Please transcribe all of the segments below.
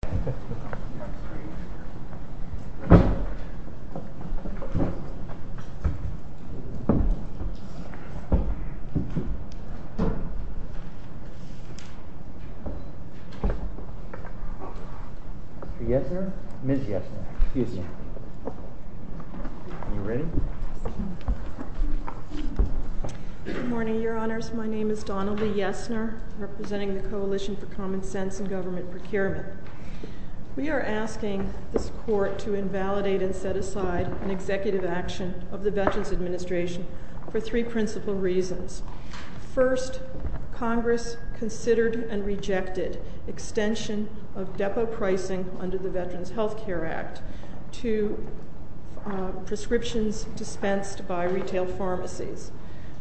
Mr. Yesner? Ms. Yesner, excuse me. Are you ready? Good morning, Your Honors. My name is Donnelly Yesner, representing the Coalition for Common Sense and Government Procurement. We are asking this Court to invalidate and set aside an executive action of the Veterans Administration for three principal reasons. First, Congress considered and rejected extension of depot pricing under the Veterans Health Care Act to prescriptions dispensed by retail pharmacies.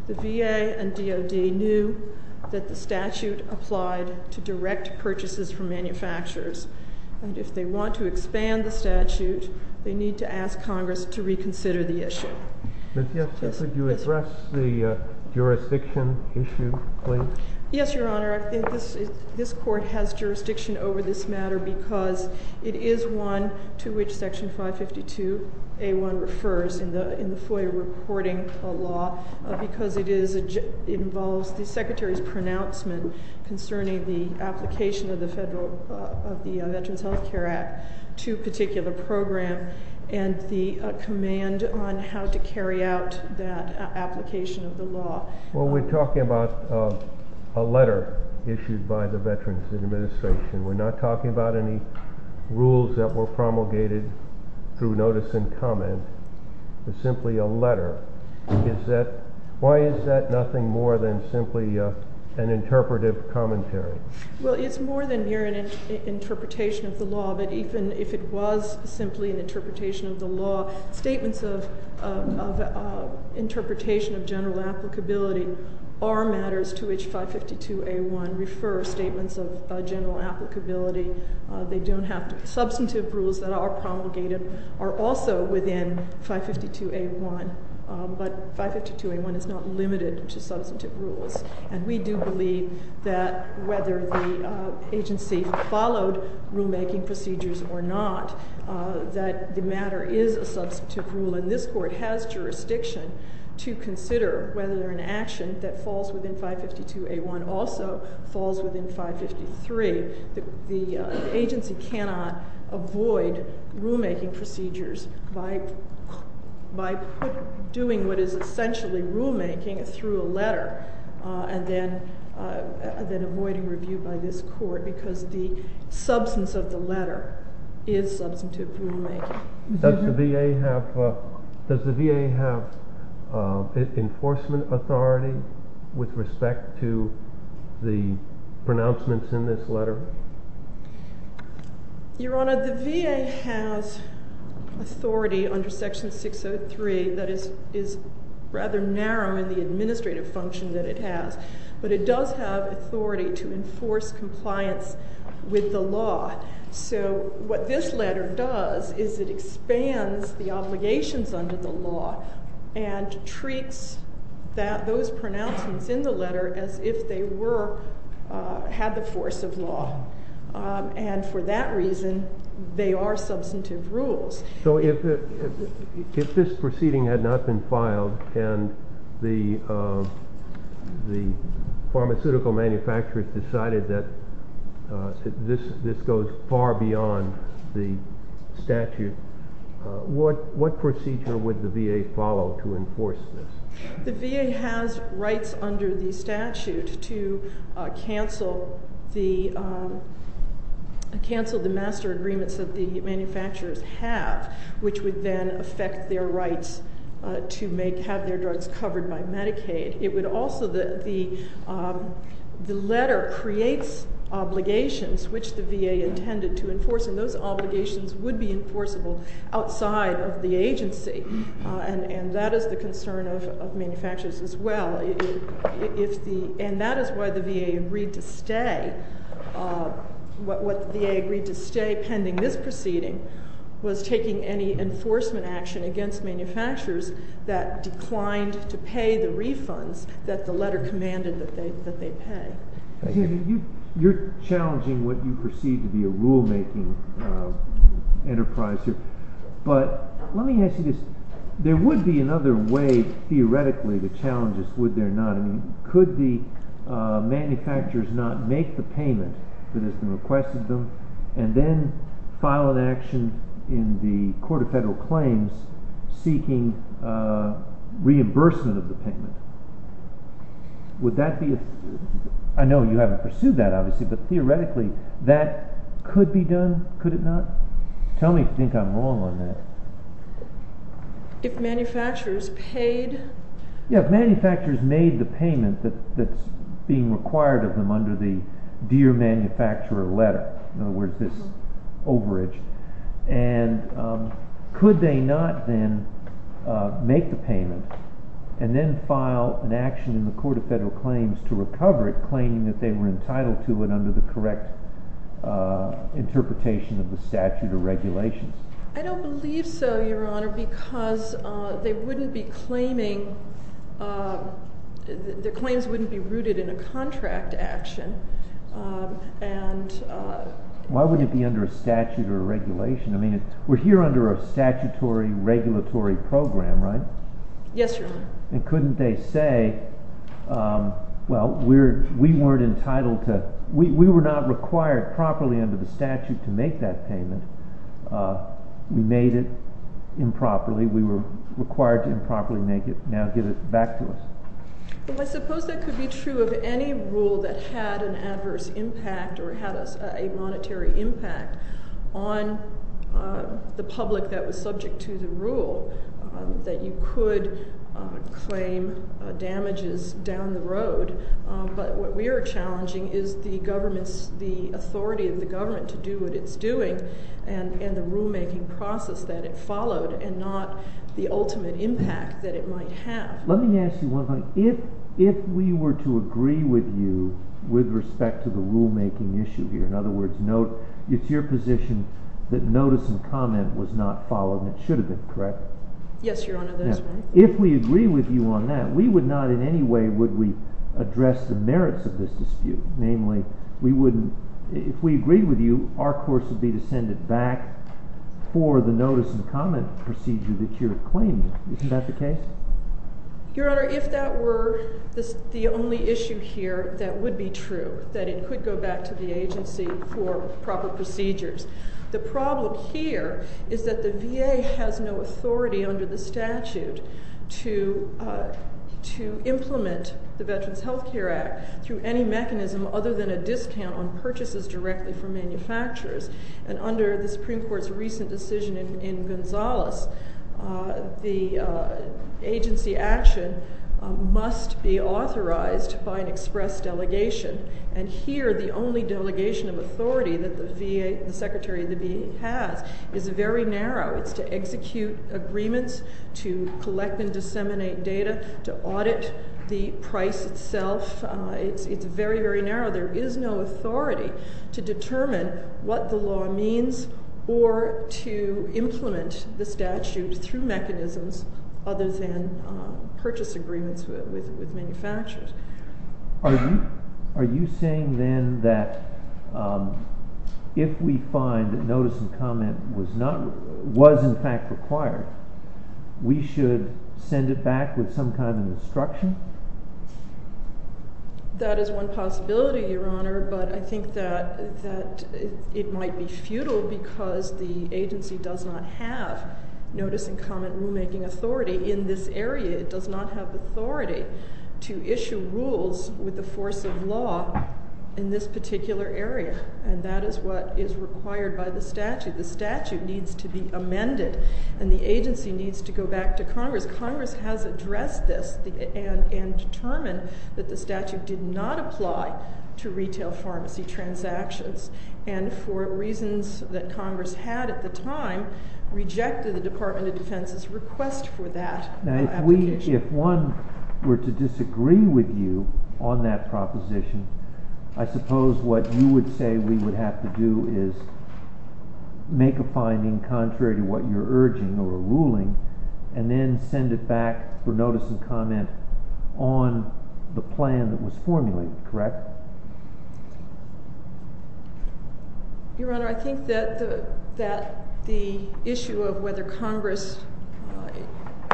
The VA and DoD knew that the statute applied to direct purchases from manufacturers, and if they want to expand the statute, they need to ask Congress to reconsider the issue. Mr. Yesner, could you address the jurisdiction issue, please? Yes, Your Honor. I think this Court has jurisdiction over this matter because it is one to which Section 552A1 refers in the FOIA reporting law because it involves the Secretary's pronouncement concerning the application of the Veterans Health Care Act to a particular program and the command on how to carry out that application of the law. Well, we're talking about a letter issued by the Veterans Administration. We're not talking about any rules that were promulgated through notice and comment. It's simply a letter. Why is that nothing more than simply an interpretive commentary? Well, it's more than mere an interpretation of the law, but even if it was simply an interpretation of the law, statements of interpretation of general applicability are matters to which Section 552A1 refers, statements of general applicability. They don't have to be substantive rules that are promulgated are also within 552A1, but 552A1 is not limited to substantive rules, and we do believe that whether the agency followed rulemaking procedures or not, that the matter is a substantive rule, and this Court has jurisdiction to consider whether an action that falls within 552A1 also falls within 553. The agency cannot avoid rulemaking procedures by doing what is essentially rulemaking through a letter and then avoiding review by this Court because the substance of the letter is substantive rulemaking. Does the VA have enforcement authority with respect to the pronouncements in this letter? Your Honor, the VA has authority under Section 603 that is rather narrow in the administrative function that it has, but it does have authority to enforce compliance with the law. So what this letter does is it expands the obligations under the law and treats those pronouncements in the letter as if they had the force of law, and for that reason, they are substantive rules. So if this proceeding had not been filed and the pharmaceutical manufacturers decided that this goes far beyond the statute, what procedure would the VA follow to enforce this? The VA has rights under the statute to cancel the master agreements that the manufacturers have, which would then affect their rights to have their drugs covered by Medicaid. It creates obligations which the VA intended to enforce, and those obligations would be enforceable outside of the agency, and that is the concern of manufacturers as well. And that is why the VA agreed to stay. What the VA agreed to stay pending this proceeding was taking any enforcement action against manufacturers that declined to pay the refunds that the letter commanded that they pay. You're challenging what you perceive to be a rule-making enterprise here, but let me ask you this. There would be another way, theoretically, to challenge this, would there not? I mean, could the manufacturers not make the payment that has been requested to them and then file an action in the Court of Federal Claims seeking reimbursement of the payment? I know you haven't pursued that, obviously, but theoretically, that could be done, could it not? Tell me if you think I'm wrong on that. If manufacturers made the payment that's being required of them under the Dear Manufacturer letter, in other words, this overage, and could they not then make the payment and then file an action in the Court of Federal Claims to recover it, claiming that they were entitled to it under the correct interpretation of the statute or regulations? I don't believe so, Your Honor, because they wouldn't be claiming, the claims wouldn't be rooted in a contract action. Why wouldn't it be under a statute or regulation? I mean, we're here under a statutory regulatory program, right? Yes, Your Honor. And couldn't they say, well, we weren't entitled to, we were not required properly under the statute to make that payment, we made it improperly, we were required to improperly make it, now get it back to us. Well, I suppose that could be true of any rule that had an adverse impact or had a monetary impact on the public that was subject to the rule, that you could claim damages down the road, but what we are challenging is the government's, the authority of the government to do what it's doing and the rulemaking process that it followed and not the ultimate impact that it might have. Let me ask you one thing. If we were to agree with you with respect to the rulemaking issue here, in other words, note it's your position that notice and comment was not followed and it should have been, correct? Yes, Your Honor, that is correct. If we agree with you on that, we would not in any way would we address the merits of this dispute. Namely, we wouldn't, if we agreed with you, our course would be to send it back for the notice and comment procedure that you're claiming. Isn't that the case? Your Honor, if that were the only issue here, that would be true, that it could go back to the agency for proper procedures. The problem here is that the VA has no authority under the statute to implement the Veterans Health Care Act through any mechanism other than a discount on purchases directly from manufacturers and under the Supreme Court's recent decision in Gonzales, the agency action must be authorized by an express delegation. And here, the only delegation of authority that the Secretary of the VA has is very narrow. It's to execute agreements, to collect and disseminate data, to audit the price itself. It's very, very difficult to implement the statute through mechanisms other than purchase agreements with manufacturers. Are you saying then that if we find that notice and comment was in fact required, we should send it back with some kind of instruction? That is one possibility, Your Honor, but I think that it might be futile because the VA does not have notice and comment rulemaking authority in this area. It does not have authority to issue rules with the force of law in this particular area, and that is what is required by the statute. The statute needs to be amended, and the agency needs to go back to Congress. Congress has addressed this and determined that the statute did not apply to retail pharmacy transactions, and for reasons that Congress had at the time, rejected the Department of Defense's request for that application. Now, if one were to disagree with you on that proposition, I suppose what you would say we would have to do is make a finding contrary to what you're urging or ruling, and then send it back for notice and comment on the plan that was formulated, correct? Your Honor, I think that the issue of whether Congress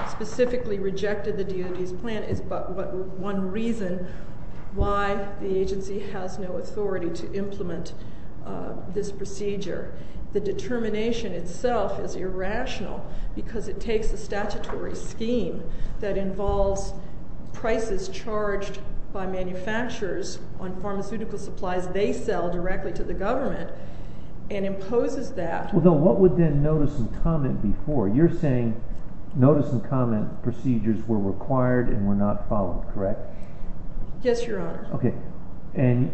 specifically rejected the DOD's plan is but one reason why the agency has no authority to implement this procedure. The determination itself is irrational because it takes a statutory scheme that involves prices charged by manufacturers on pharmaceutical supplies they sell directly to the government and imposes that. Well, what would then notice and comment be for? You're saying notice and comment procedures were required and were not followed, correct? Yes, Your Honor. And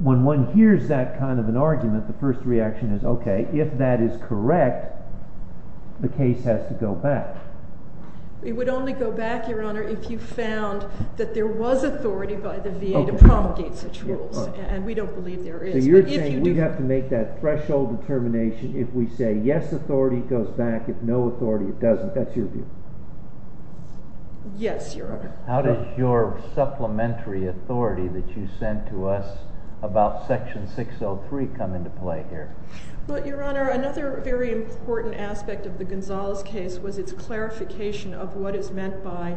when one hears that kind of an argument, the first reaction is, okay, if that is correct, the case has to go back. It would only go back, Your Honor, if you found that there was authority by the VA to promulgate such rules, and we don't believe there is. So you're saying we have to make that threshold determination if we say, yes, authority goes back, if no authority, it doesn't. That's your view? Yes, Your Honor. How does your supplementary authority that you sent to us about Section 603 come into play here? Well, Your Honor, another very important aspect of the Gonzales case was its clarification of what is meant by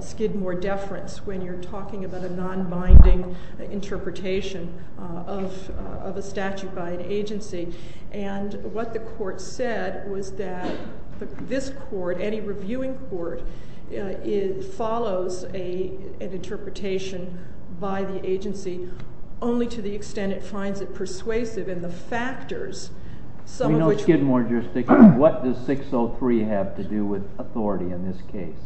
Skidmore deference when you're talking about a non-binding interpretation of a statute by an agency. And what the court said was that this court, any reviewing court, it follows an interpretation by the agency only to the extent it finds it persuasive in the factors, some of which We know Skidmore jurisdiction. What does 603 have to do with authority in this case?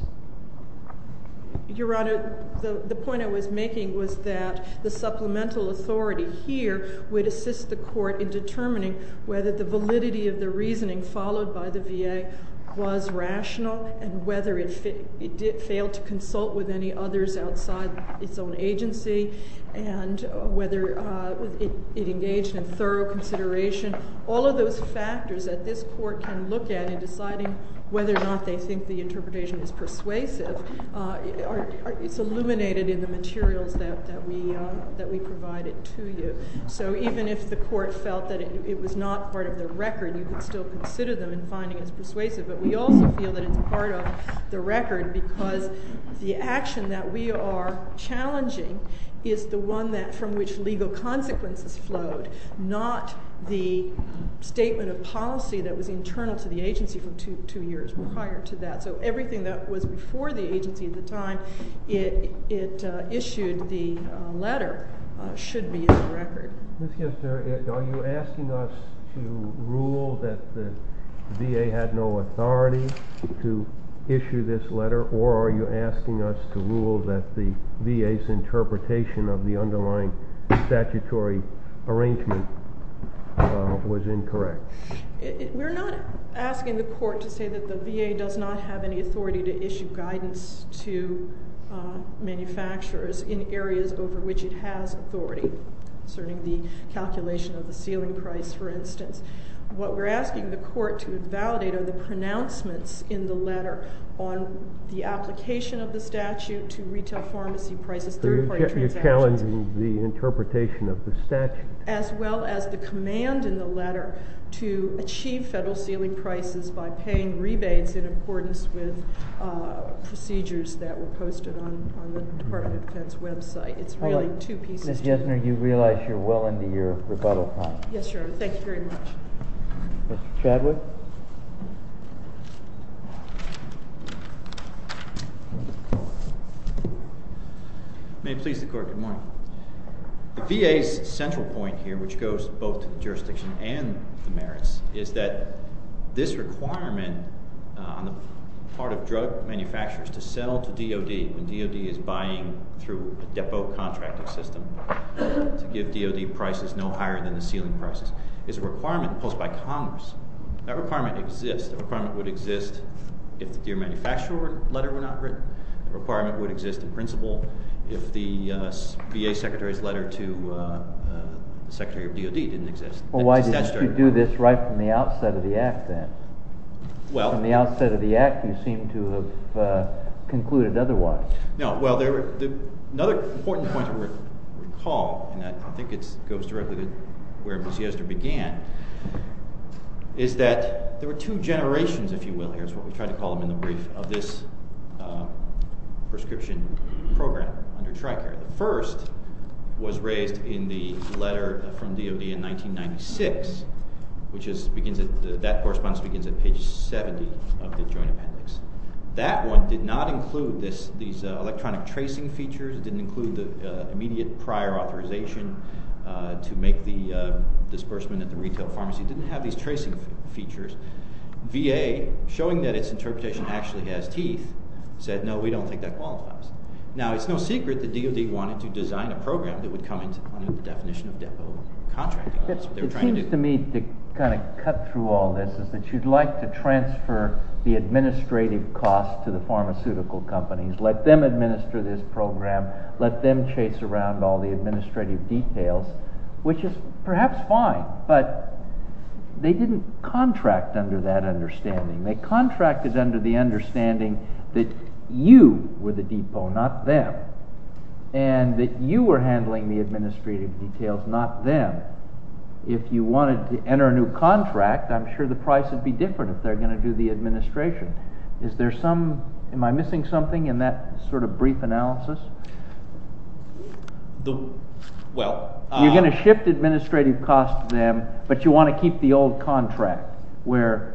Your Honor, the point I was making was that the supplemental authority here would assist the court in determining whether the validity of the reasoning followed by the VA was rational and whether it failed to consult with any others outside its own agency and whether it engaged in thorough consideration. All of those factors that this court can look at in deciding whether or not they think the interpretation is persuasive, it's illuminated in the materials that we provided to you. So even if the court felt that it was not part of the record, you could still consider them in finding it persuasive. But we also feel that it's part of the record because the action that we are challenging is the one from which legal consequences flowed, not the statement of policy that was internal to the agency from two years prior to that. So everything that was before the agency at the time, it issued the letter, should be in the record. Ms. Gessner, are you asking us to rule that the VA had no authority to issue this letter or are you asking us to rule that the VA's interpretation of the underlying statutory arrangement was incorrect? We're not asking the court to say that the VA does not have any authority to issue guidance to manufacturers in areas over which it has authority, concerning the calculation of the ceiling price, for instance. What we're asking the court to validate are the pronouncements in the letter on the application of the statute to retail pharmacy prices, third-party transactions. So you're challenging the interpretation of the statute? As well as the command in the letter to achieve federal ceiling prices by paying rebates in accordance with the procedures that were posted on the Department of Defense website. It's really two pieces. Ms. Gessner, you realize you're well into your rebuttal time. Yes, Your Honor. Thank you very much. Mr. Chadwick? May it please the court, good morning. The VA's central point here, which goes both to the jurisdiction and the merits, is that this requirement on the part of drug manufacturers to sell to DoD, when DoD is buying through a depot contracting system to give DoD prices no higher than the ceiling prices, is a requirement posed by Congress. That requirement exists. The requirement would exist if the DoD manufacturer letter were not written. The requirement would exist in principle if the VA secretary's letter to the secretary of DoD didn't exist. Well, why did you do this right from the outset of the act, then? From the outset of the act, you seem to have concluded otherwise. No. Well, another important point to recall, and I think it goes directly to where Ms. Gessner began, is that there were two generations, if you will, here's what we try to call them in the brief, of this prescription program under TRICARE. The first was raised in the letter from DoD in 1996. That correspondence begins at page 70 of the joint appendix. That one did not include these electronic tracing features. It didn't include the immediate prior authorization to make the disbursement at the retail pharmacy. It didn't have these tracing features. VA, showing that its interpretation actually has teeth, said, no, we don't think that qualifies. Now, it's no secret that DoD wanted to design a program that would come into the definition of depot contracting. It seems to me, to kind of cut through all this, is that you'd like to transfer the administrative cost to the pharmaceutical companies, let them administer this program, let them chase around all the administrative details, which is perhaps fine, but they didn't contract under that understanding. The contract is under the understanding that you were the depot, not them, and that you were handling the administrative details, not them. If you wanted to enter a new contract, I'm sure the price would be different if they're going to do the administration. Is there some, am I missing something in that sort of brief analysis? You're going to shift administrative costs to them, but you want to keep the old contract where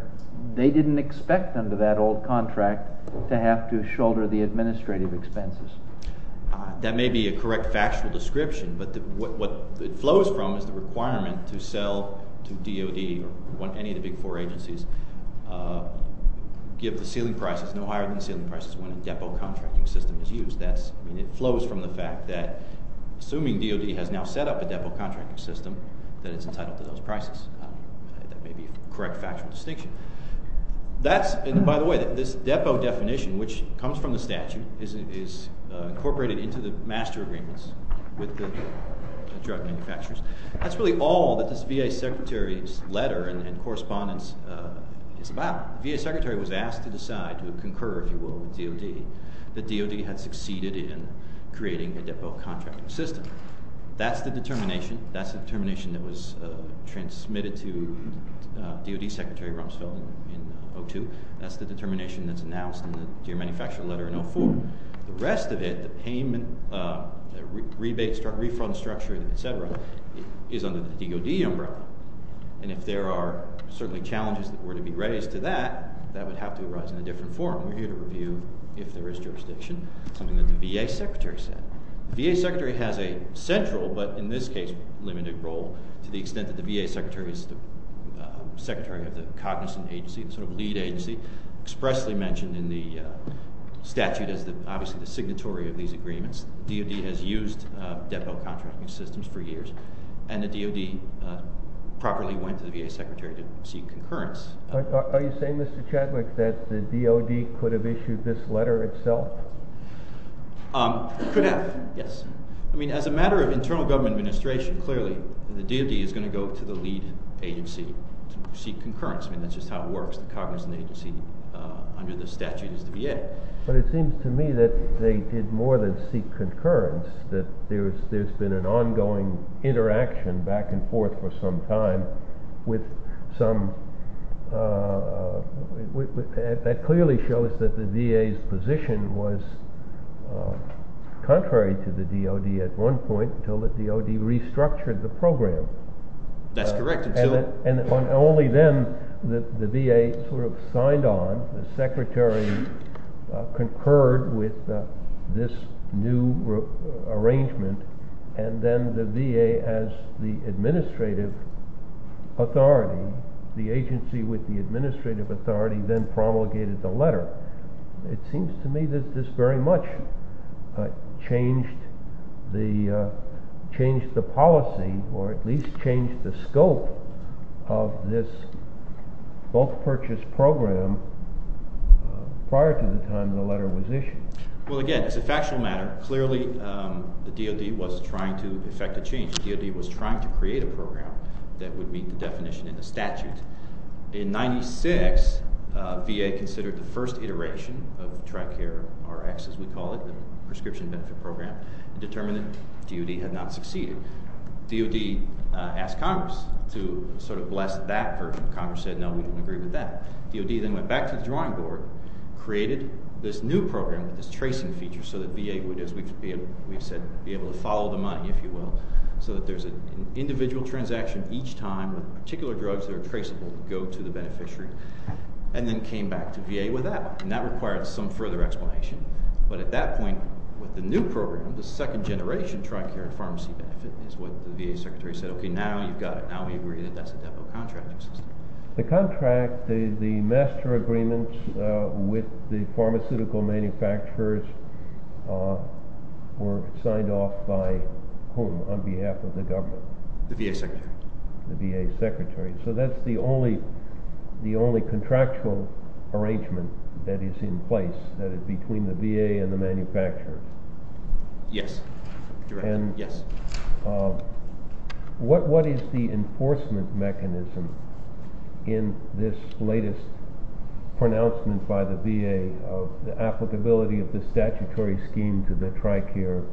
they didn't expect under that old contract to have to shoulder the administrative expenses. That may be a correct factual description, but what it flows from is the requirement to sell to DoD or any of the big four agencies, give the ceiling prices no higher than the ceiling prices when a depot contracting system is used. It flows from the fact that assuming DoD has now set up a depot contracting system that is entitled to those prices. That may be a correct factual distinction. That's, and by the way, this depot definition, which comes from the statute, is incorporated into the master agreements with the drug manufacturers. That's really all that this VA Secretary's letter and correspondence is about. The VA Secretary was asked to decide, to concur, if you will, with DoD, that DoD had succeeded in creating a depot contracting system. That's the determination. That's the determination that was transmitted to DoD Secretary Rumsfeld in 2002. That's the determination that's announced in the deer manufacturer letter in 2004. The rest of it, the payment, rebate, refund structure, et cetera, is under the DoD umbrella. And if there are certainly challenges that were to be raised to that, that would have to arise in a different forum. We're here to review if there is jurisdiction, something that the VA Secretary said. The VA Secretary has a central, but in this case, limited role to the extent that the VA Secretary is the secretary of the cognizant agency, the sort of lead agency, expressly mentioned in the statute as obviously the signatory of these agreements. DoD has used depot contracting systems for years. And the DoD properly went to the VA Secretary to seek concurrence. Are you saying, Mr. Chadwick, that the DoD could have issued this letter itself? It could have, yes. I mean, as a matter of internal government administration, clearly the DoD is going to go to the lead agency to seek concurrence. I mean, that's just how it works. The cognizant agency under the statute is the VA. But it seems to me that they did more than seek concurrence, that there's been an ongoing interaction back and forth for some time with some—that clearly shows that the VA's position was contrary to the DoD at one point until the DoD restructured the program. That's correct. Until— And only then, the VA sort of signed on. The Secretary concurred with this new arrangement. And then the VA, as the administrative authority, the agency with the administrative authority then promulgated the letter. It seems to me that this very much changed the policy, or at least changed the scope of this bulk purchase program prior to the time the letter was issued. Well, again, as a factual matter, clearly the DoD was trying to effect a change. The DoD was trying to create a program that would meet the definition in the statute. And in 1996, VA considered the first iteration of TRICARE-RX, as we call it, the prescription benefit program, and determined that DoD had not succeeded. DoD asked Congress to sort of bless that version. Congress said, no, we don't agree with that. DoD then went back to the drawing board, created this new program, this tracing feature, so that VA would, as we've said, be able to follow the money, if you will, so that there's an individual transaction each time, particular drugs that are traceable go to the beneficiary, and then came back to VA with that. And that required some further explanation. But at that point, with the new program, the second generation TRICARE pharmacy benefit is what the VA secretary said, OK, now you've got it. Now we agree that that's a demo contract. The contract, the master agreement with the pharmaceutical manufacturers were signed off by whom, on behalf of the government? The VA secretary. The VA secretary. So that's the only contractual arrangement that is in place, that is between the VA and the manufacturers? Yes. And what is the enforcement mechanism in this latest pronouncement by the VA of the applicability of the statutory scheme to the TRICARE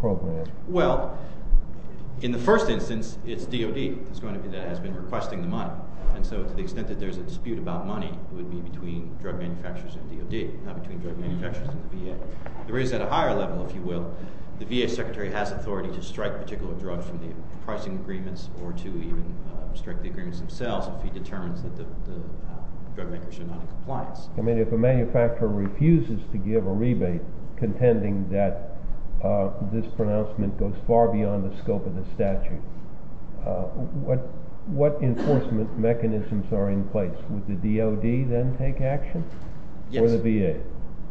program? Well, in the first instance, it's DoD that has been requesting the money. And so to the extent that there's a dispute about money, it would be between drug manufacturers and DoD, not between drug manufacturers and the VA. There is, at a higher level, if you will, the VA secretary has authority to strike particular drugs from the pricing agreements, or to even strike the I mean, if a manufacturer refuses to give a rebate, contending that this pronouncement goes far beyond the scope of the statute, what enforcement mechanisms are in place? Would the DoD then take action? Yes. Or the VA?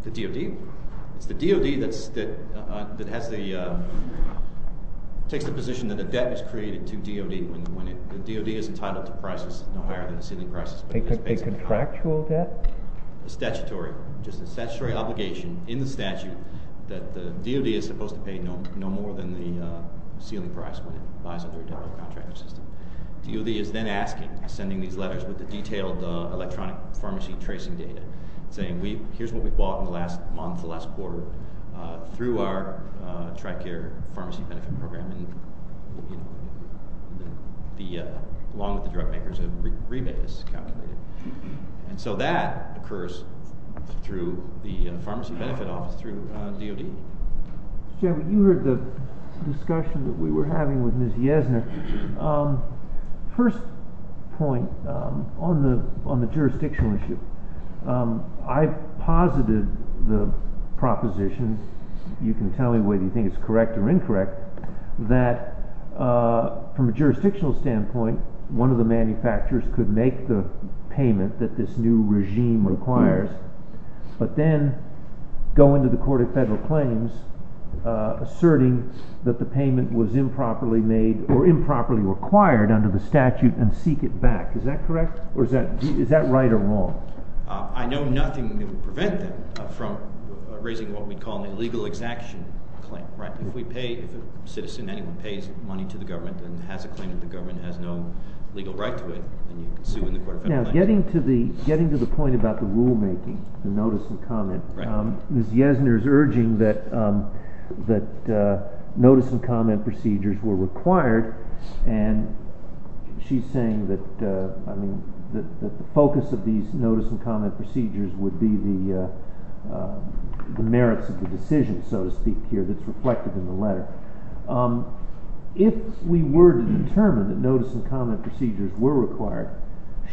The DoD. It's the DoD that has the, takes the position that a debt is created to DoD when the DoD is entitled to prices no higher than the ceiling prices. A contractual debt? Statutory. Just a statutory obligation in the statute that the DoD is supposed to pay no more than the ceiling price when it lies under a debtor-contractor system. DoD is then asking, sending these letters with the detailed electronic pharmacy tracing data, saying, here's what we bought in the last month, the last quarter, through our TRICARE pharmacy benefit program, and the, along with the drug makers, a rebate is calculated. And so that occurs through the pharmacy benefit office through DoD. Jeffrey, you heard the discussion that we were having with Ms. Yesner. First point, on the jurisdictional issue, I've posited the proposition, you can tell me whether you think it's correct or incorrect, that from a jurisdictional standpoint, one of the manufacturers could make the payment that this new regime requires, but then go into the court of federal claims asserting that the payment was improperly made or improperly required under the statute and seek it back. Is that correct? Or is that right or wrong? I know nothing that would prevent them from raising what we call an illegal exaction claim. If a citizen, anyone, pays money to the government and has a claim that the government has no legal right to it, then you can sue in the court of federal claims. Now, getting to the point about the rulemaking, the notice and comment, Ms. Yesner is urging that notice and comment procedures were required and she's saying that the focus of these notice and comment procedures would be the merits of the decision, so to speak here, that's reflected in the letter. If we were to determine that notice and comment procedures were required,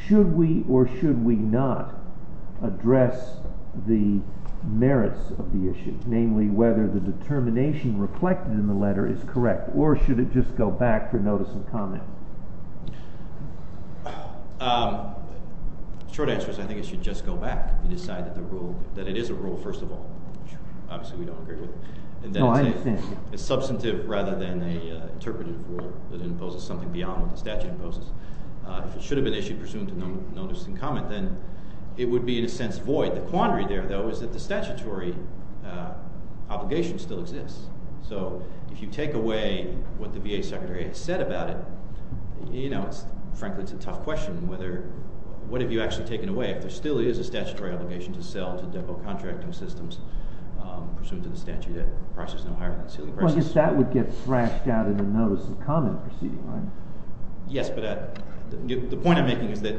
should we or should we not address the merits of the issue, namely whether the determination reflected in the letter is correct or should it just go back for notice and comment? Short answer is I think it should just go back and decide that it is a rule, first of all, which obviously we don't agree with, and that it's substantive rather than an interpretative rule that imposes something beyond what the statute imposes. If it should have been issued presumed to notice and comment, then it would be, in a sense, void. The quandary there, though, is that the statutory obligation still exists. So if you take away what the VA Secretary has said about it, frankly, it's a tough question. What have you actually taken away? If there still is a statutory obligation to sell to depot contracting systems pursuant to the statute, the price is no higher than the ceiling price. But that would get thrashed out in the notice and comment procedure, right? Yes, but the point I'm making is that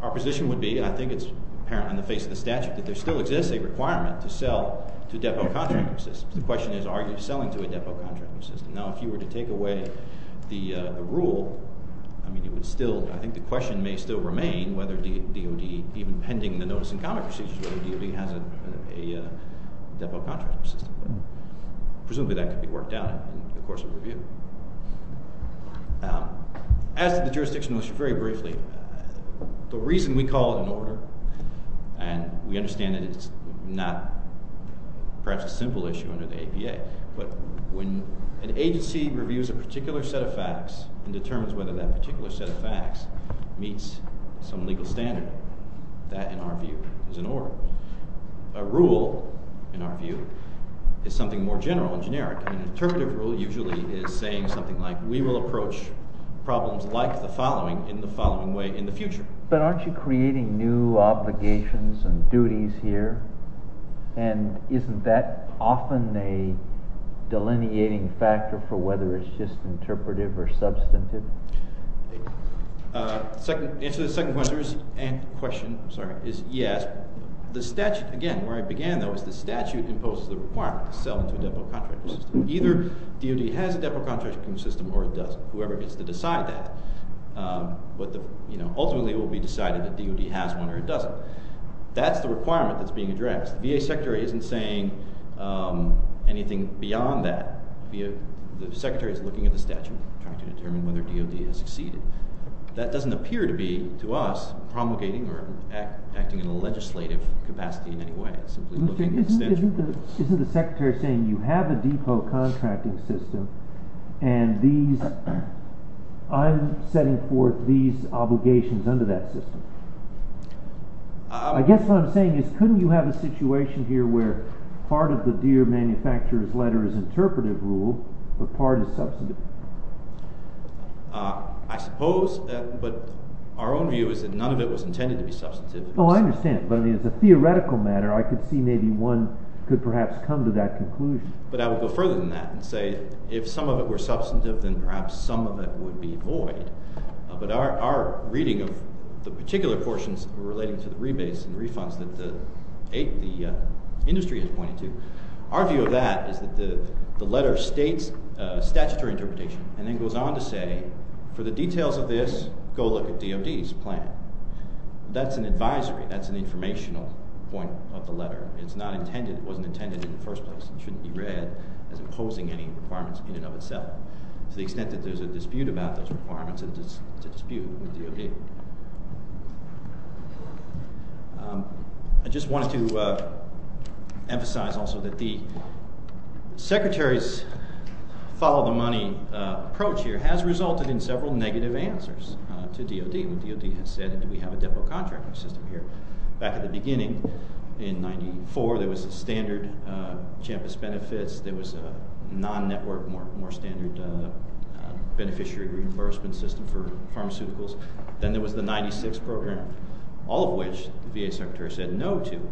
our position would be, and I think it's apparent on the face of the statute, that there still exists a requirement to sell to depot contracting systems. The question is, are you selling to a depot contracting system? Now, if you were to take away the rule, I think the question may still remain whether DOD, even pending the notice and comment procedure, whether DOD has a depot contracting system. Presumably that could be worked out in the course of review. As to the jurisdiction issue, very briefly, the reason we call it an order, and we understand that it's not perhaps a simple issue, under the APA, but when an agency reviews a particular set of facts and determines whether that particular set of facts meets some legal standard, that, in our view, is an order. A rule, in our view, is something more general and generic. An interpretive rule usually is saying something like, we will approach problems like the following in the following way in the future. But aren't you creating new obligations and duties here? And isn't that often a delineating factor for whether it's just interpretive or substantive? The answer to the second question is yes. The statute, again, where I began though, is the statute imposes the requirement to sell to a depot contracting system. Either DOD has a depot contracting system or it doesn't. Whoever gets to decide that. Ultimately it will be decided that DOD has one or it doesn't. That's the requirement that's being addressed. The VA Secretary isn't saying anything beyond that. The Secretary is looking at the statute, trying to determine whether DOD has succeeded. That doesn't appear to be, to us, promulgating or acting in a legislative capacity in any way. It's simply looking at the statute. Isn't the Secretary saying, you have a depot contracting system and I'm setting forth these obligations under that system? I guess what I'm saying is, couldn't you have a situation here where part of the deer manufacturer's letter is interpretive rule but part is substantive? I suppose, but our own view is that none of it was intended to be substantive. Oh, I understand, but as a theoretical matter I could see maybe one could perhaps come to that conclusion. But I would go further than that and say if some of it were substantive then perhaps some of it would be void. But our reading of the particular portions relating to the rebates and refunds that the industry has pointed to our view of that is that the letter states statutory interpretation and then goes on to say, for the details of this go look at DOD's plan. That's an advisory, that's an informational point of the letter. It wasn't intended in the first place and shouldn't be read as imposing any requirements in and of itself. To the extent that there's a dispute about those requirements it's a dispute with DOD. I just wanted to emphasize also that the Secretary's follow-the-money approach here has resulted in several negative answers to DOD. DOD has said that we have a depot contracting system here. Back at the beginning, in 1994 there was a standard CHAMPIS benefits there was a non-network, more standard beneficiary reimbursement system for pharmaceuticals then there was the 96 program all of which the VA Secretary said no to.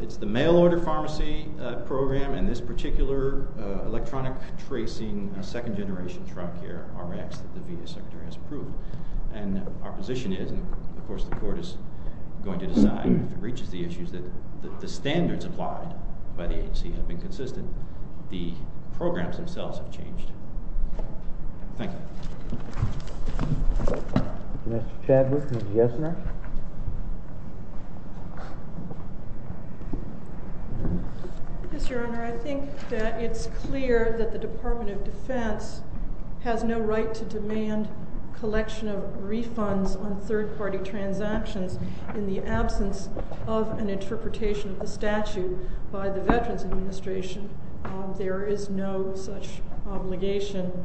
It's the mail-order pharmacy program and this particular electronic tracing second-generation drug here, RX, that the VA Secretary has approved. And our position is, and of course the Court is going to decide if it reaches the issues that the standards applied by the HC have been consistent. The programs themselves have changed. Thank you. Mr. Chadwick, did you have something? Yes, Your Honor, I think that it's clear that the Department of Defense has no right to demand collection of refunds on third-party transactions in the absence of an interpretation of the statute by the Veterans Administration. There is no such obligation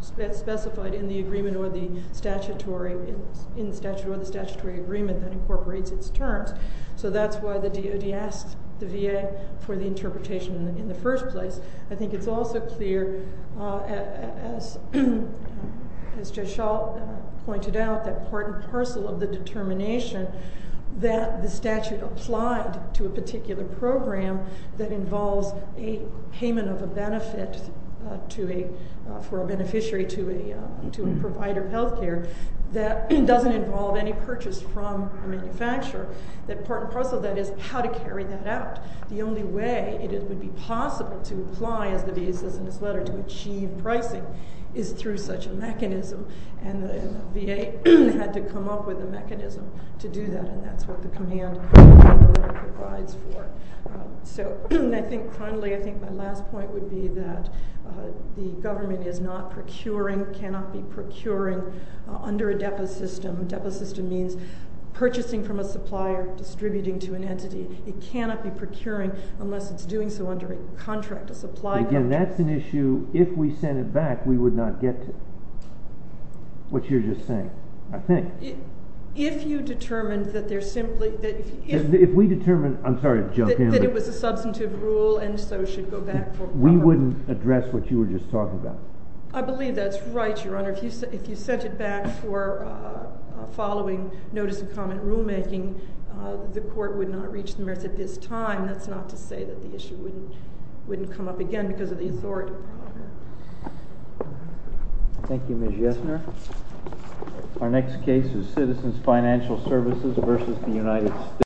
specified in the agreement or the statutory agreement that incorporates its terms. So that's why the DOD asks the VA for the interpretation in the first place. I think it's also clear as Judge Schall pointed out that part and parcel of the determination that the statute applied to a particular program that involves a payment of a benefit for a beneficiary to a provider of health care that doesn't involve any purchase from a manufacturer, that part and parcel of that is how to carry that out. The only way it would be possible to apply, as the VA says in its letter, to achieve pricing and the VA had to come up with a mechanism to do that and that's what the command provides for. So I think finally my last point would be that the government is not procuring, cannot be procuring under a depot system. Depot system means purchasing from a supplier, distributing to an entity. It cannot be procuring unless it's doing so under a contract, a supply contract. Again, that's an issue if we sent it back we would not get to it, which you're just saying, I think. If you determined that there's simply... If we determined, I'm sorry to jump in... That it was a substantive rule and so should go back for... We wouldn't address what you were just talking about. I believe that's right, Your Honor. If you sent it back for following notice of comment rulemaking the court would not reach the merits of his time. That's not to say that the issue wouldn't come up again because of the authority problem. Thank you, Ms. Yesner. Our next case is Citizens Financial Services versus the United States.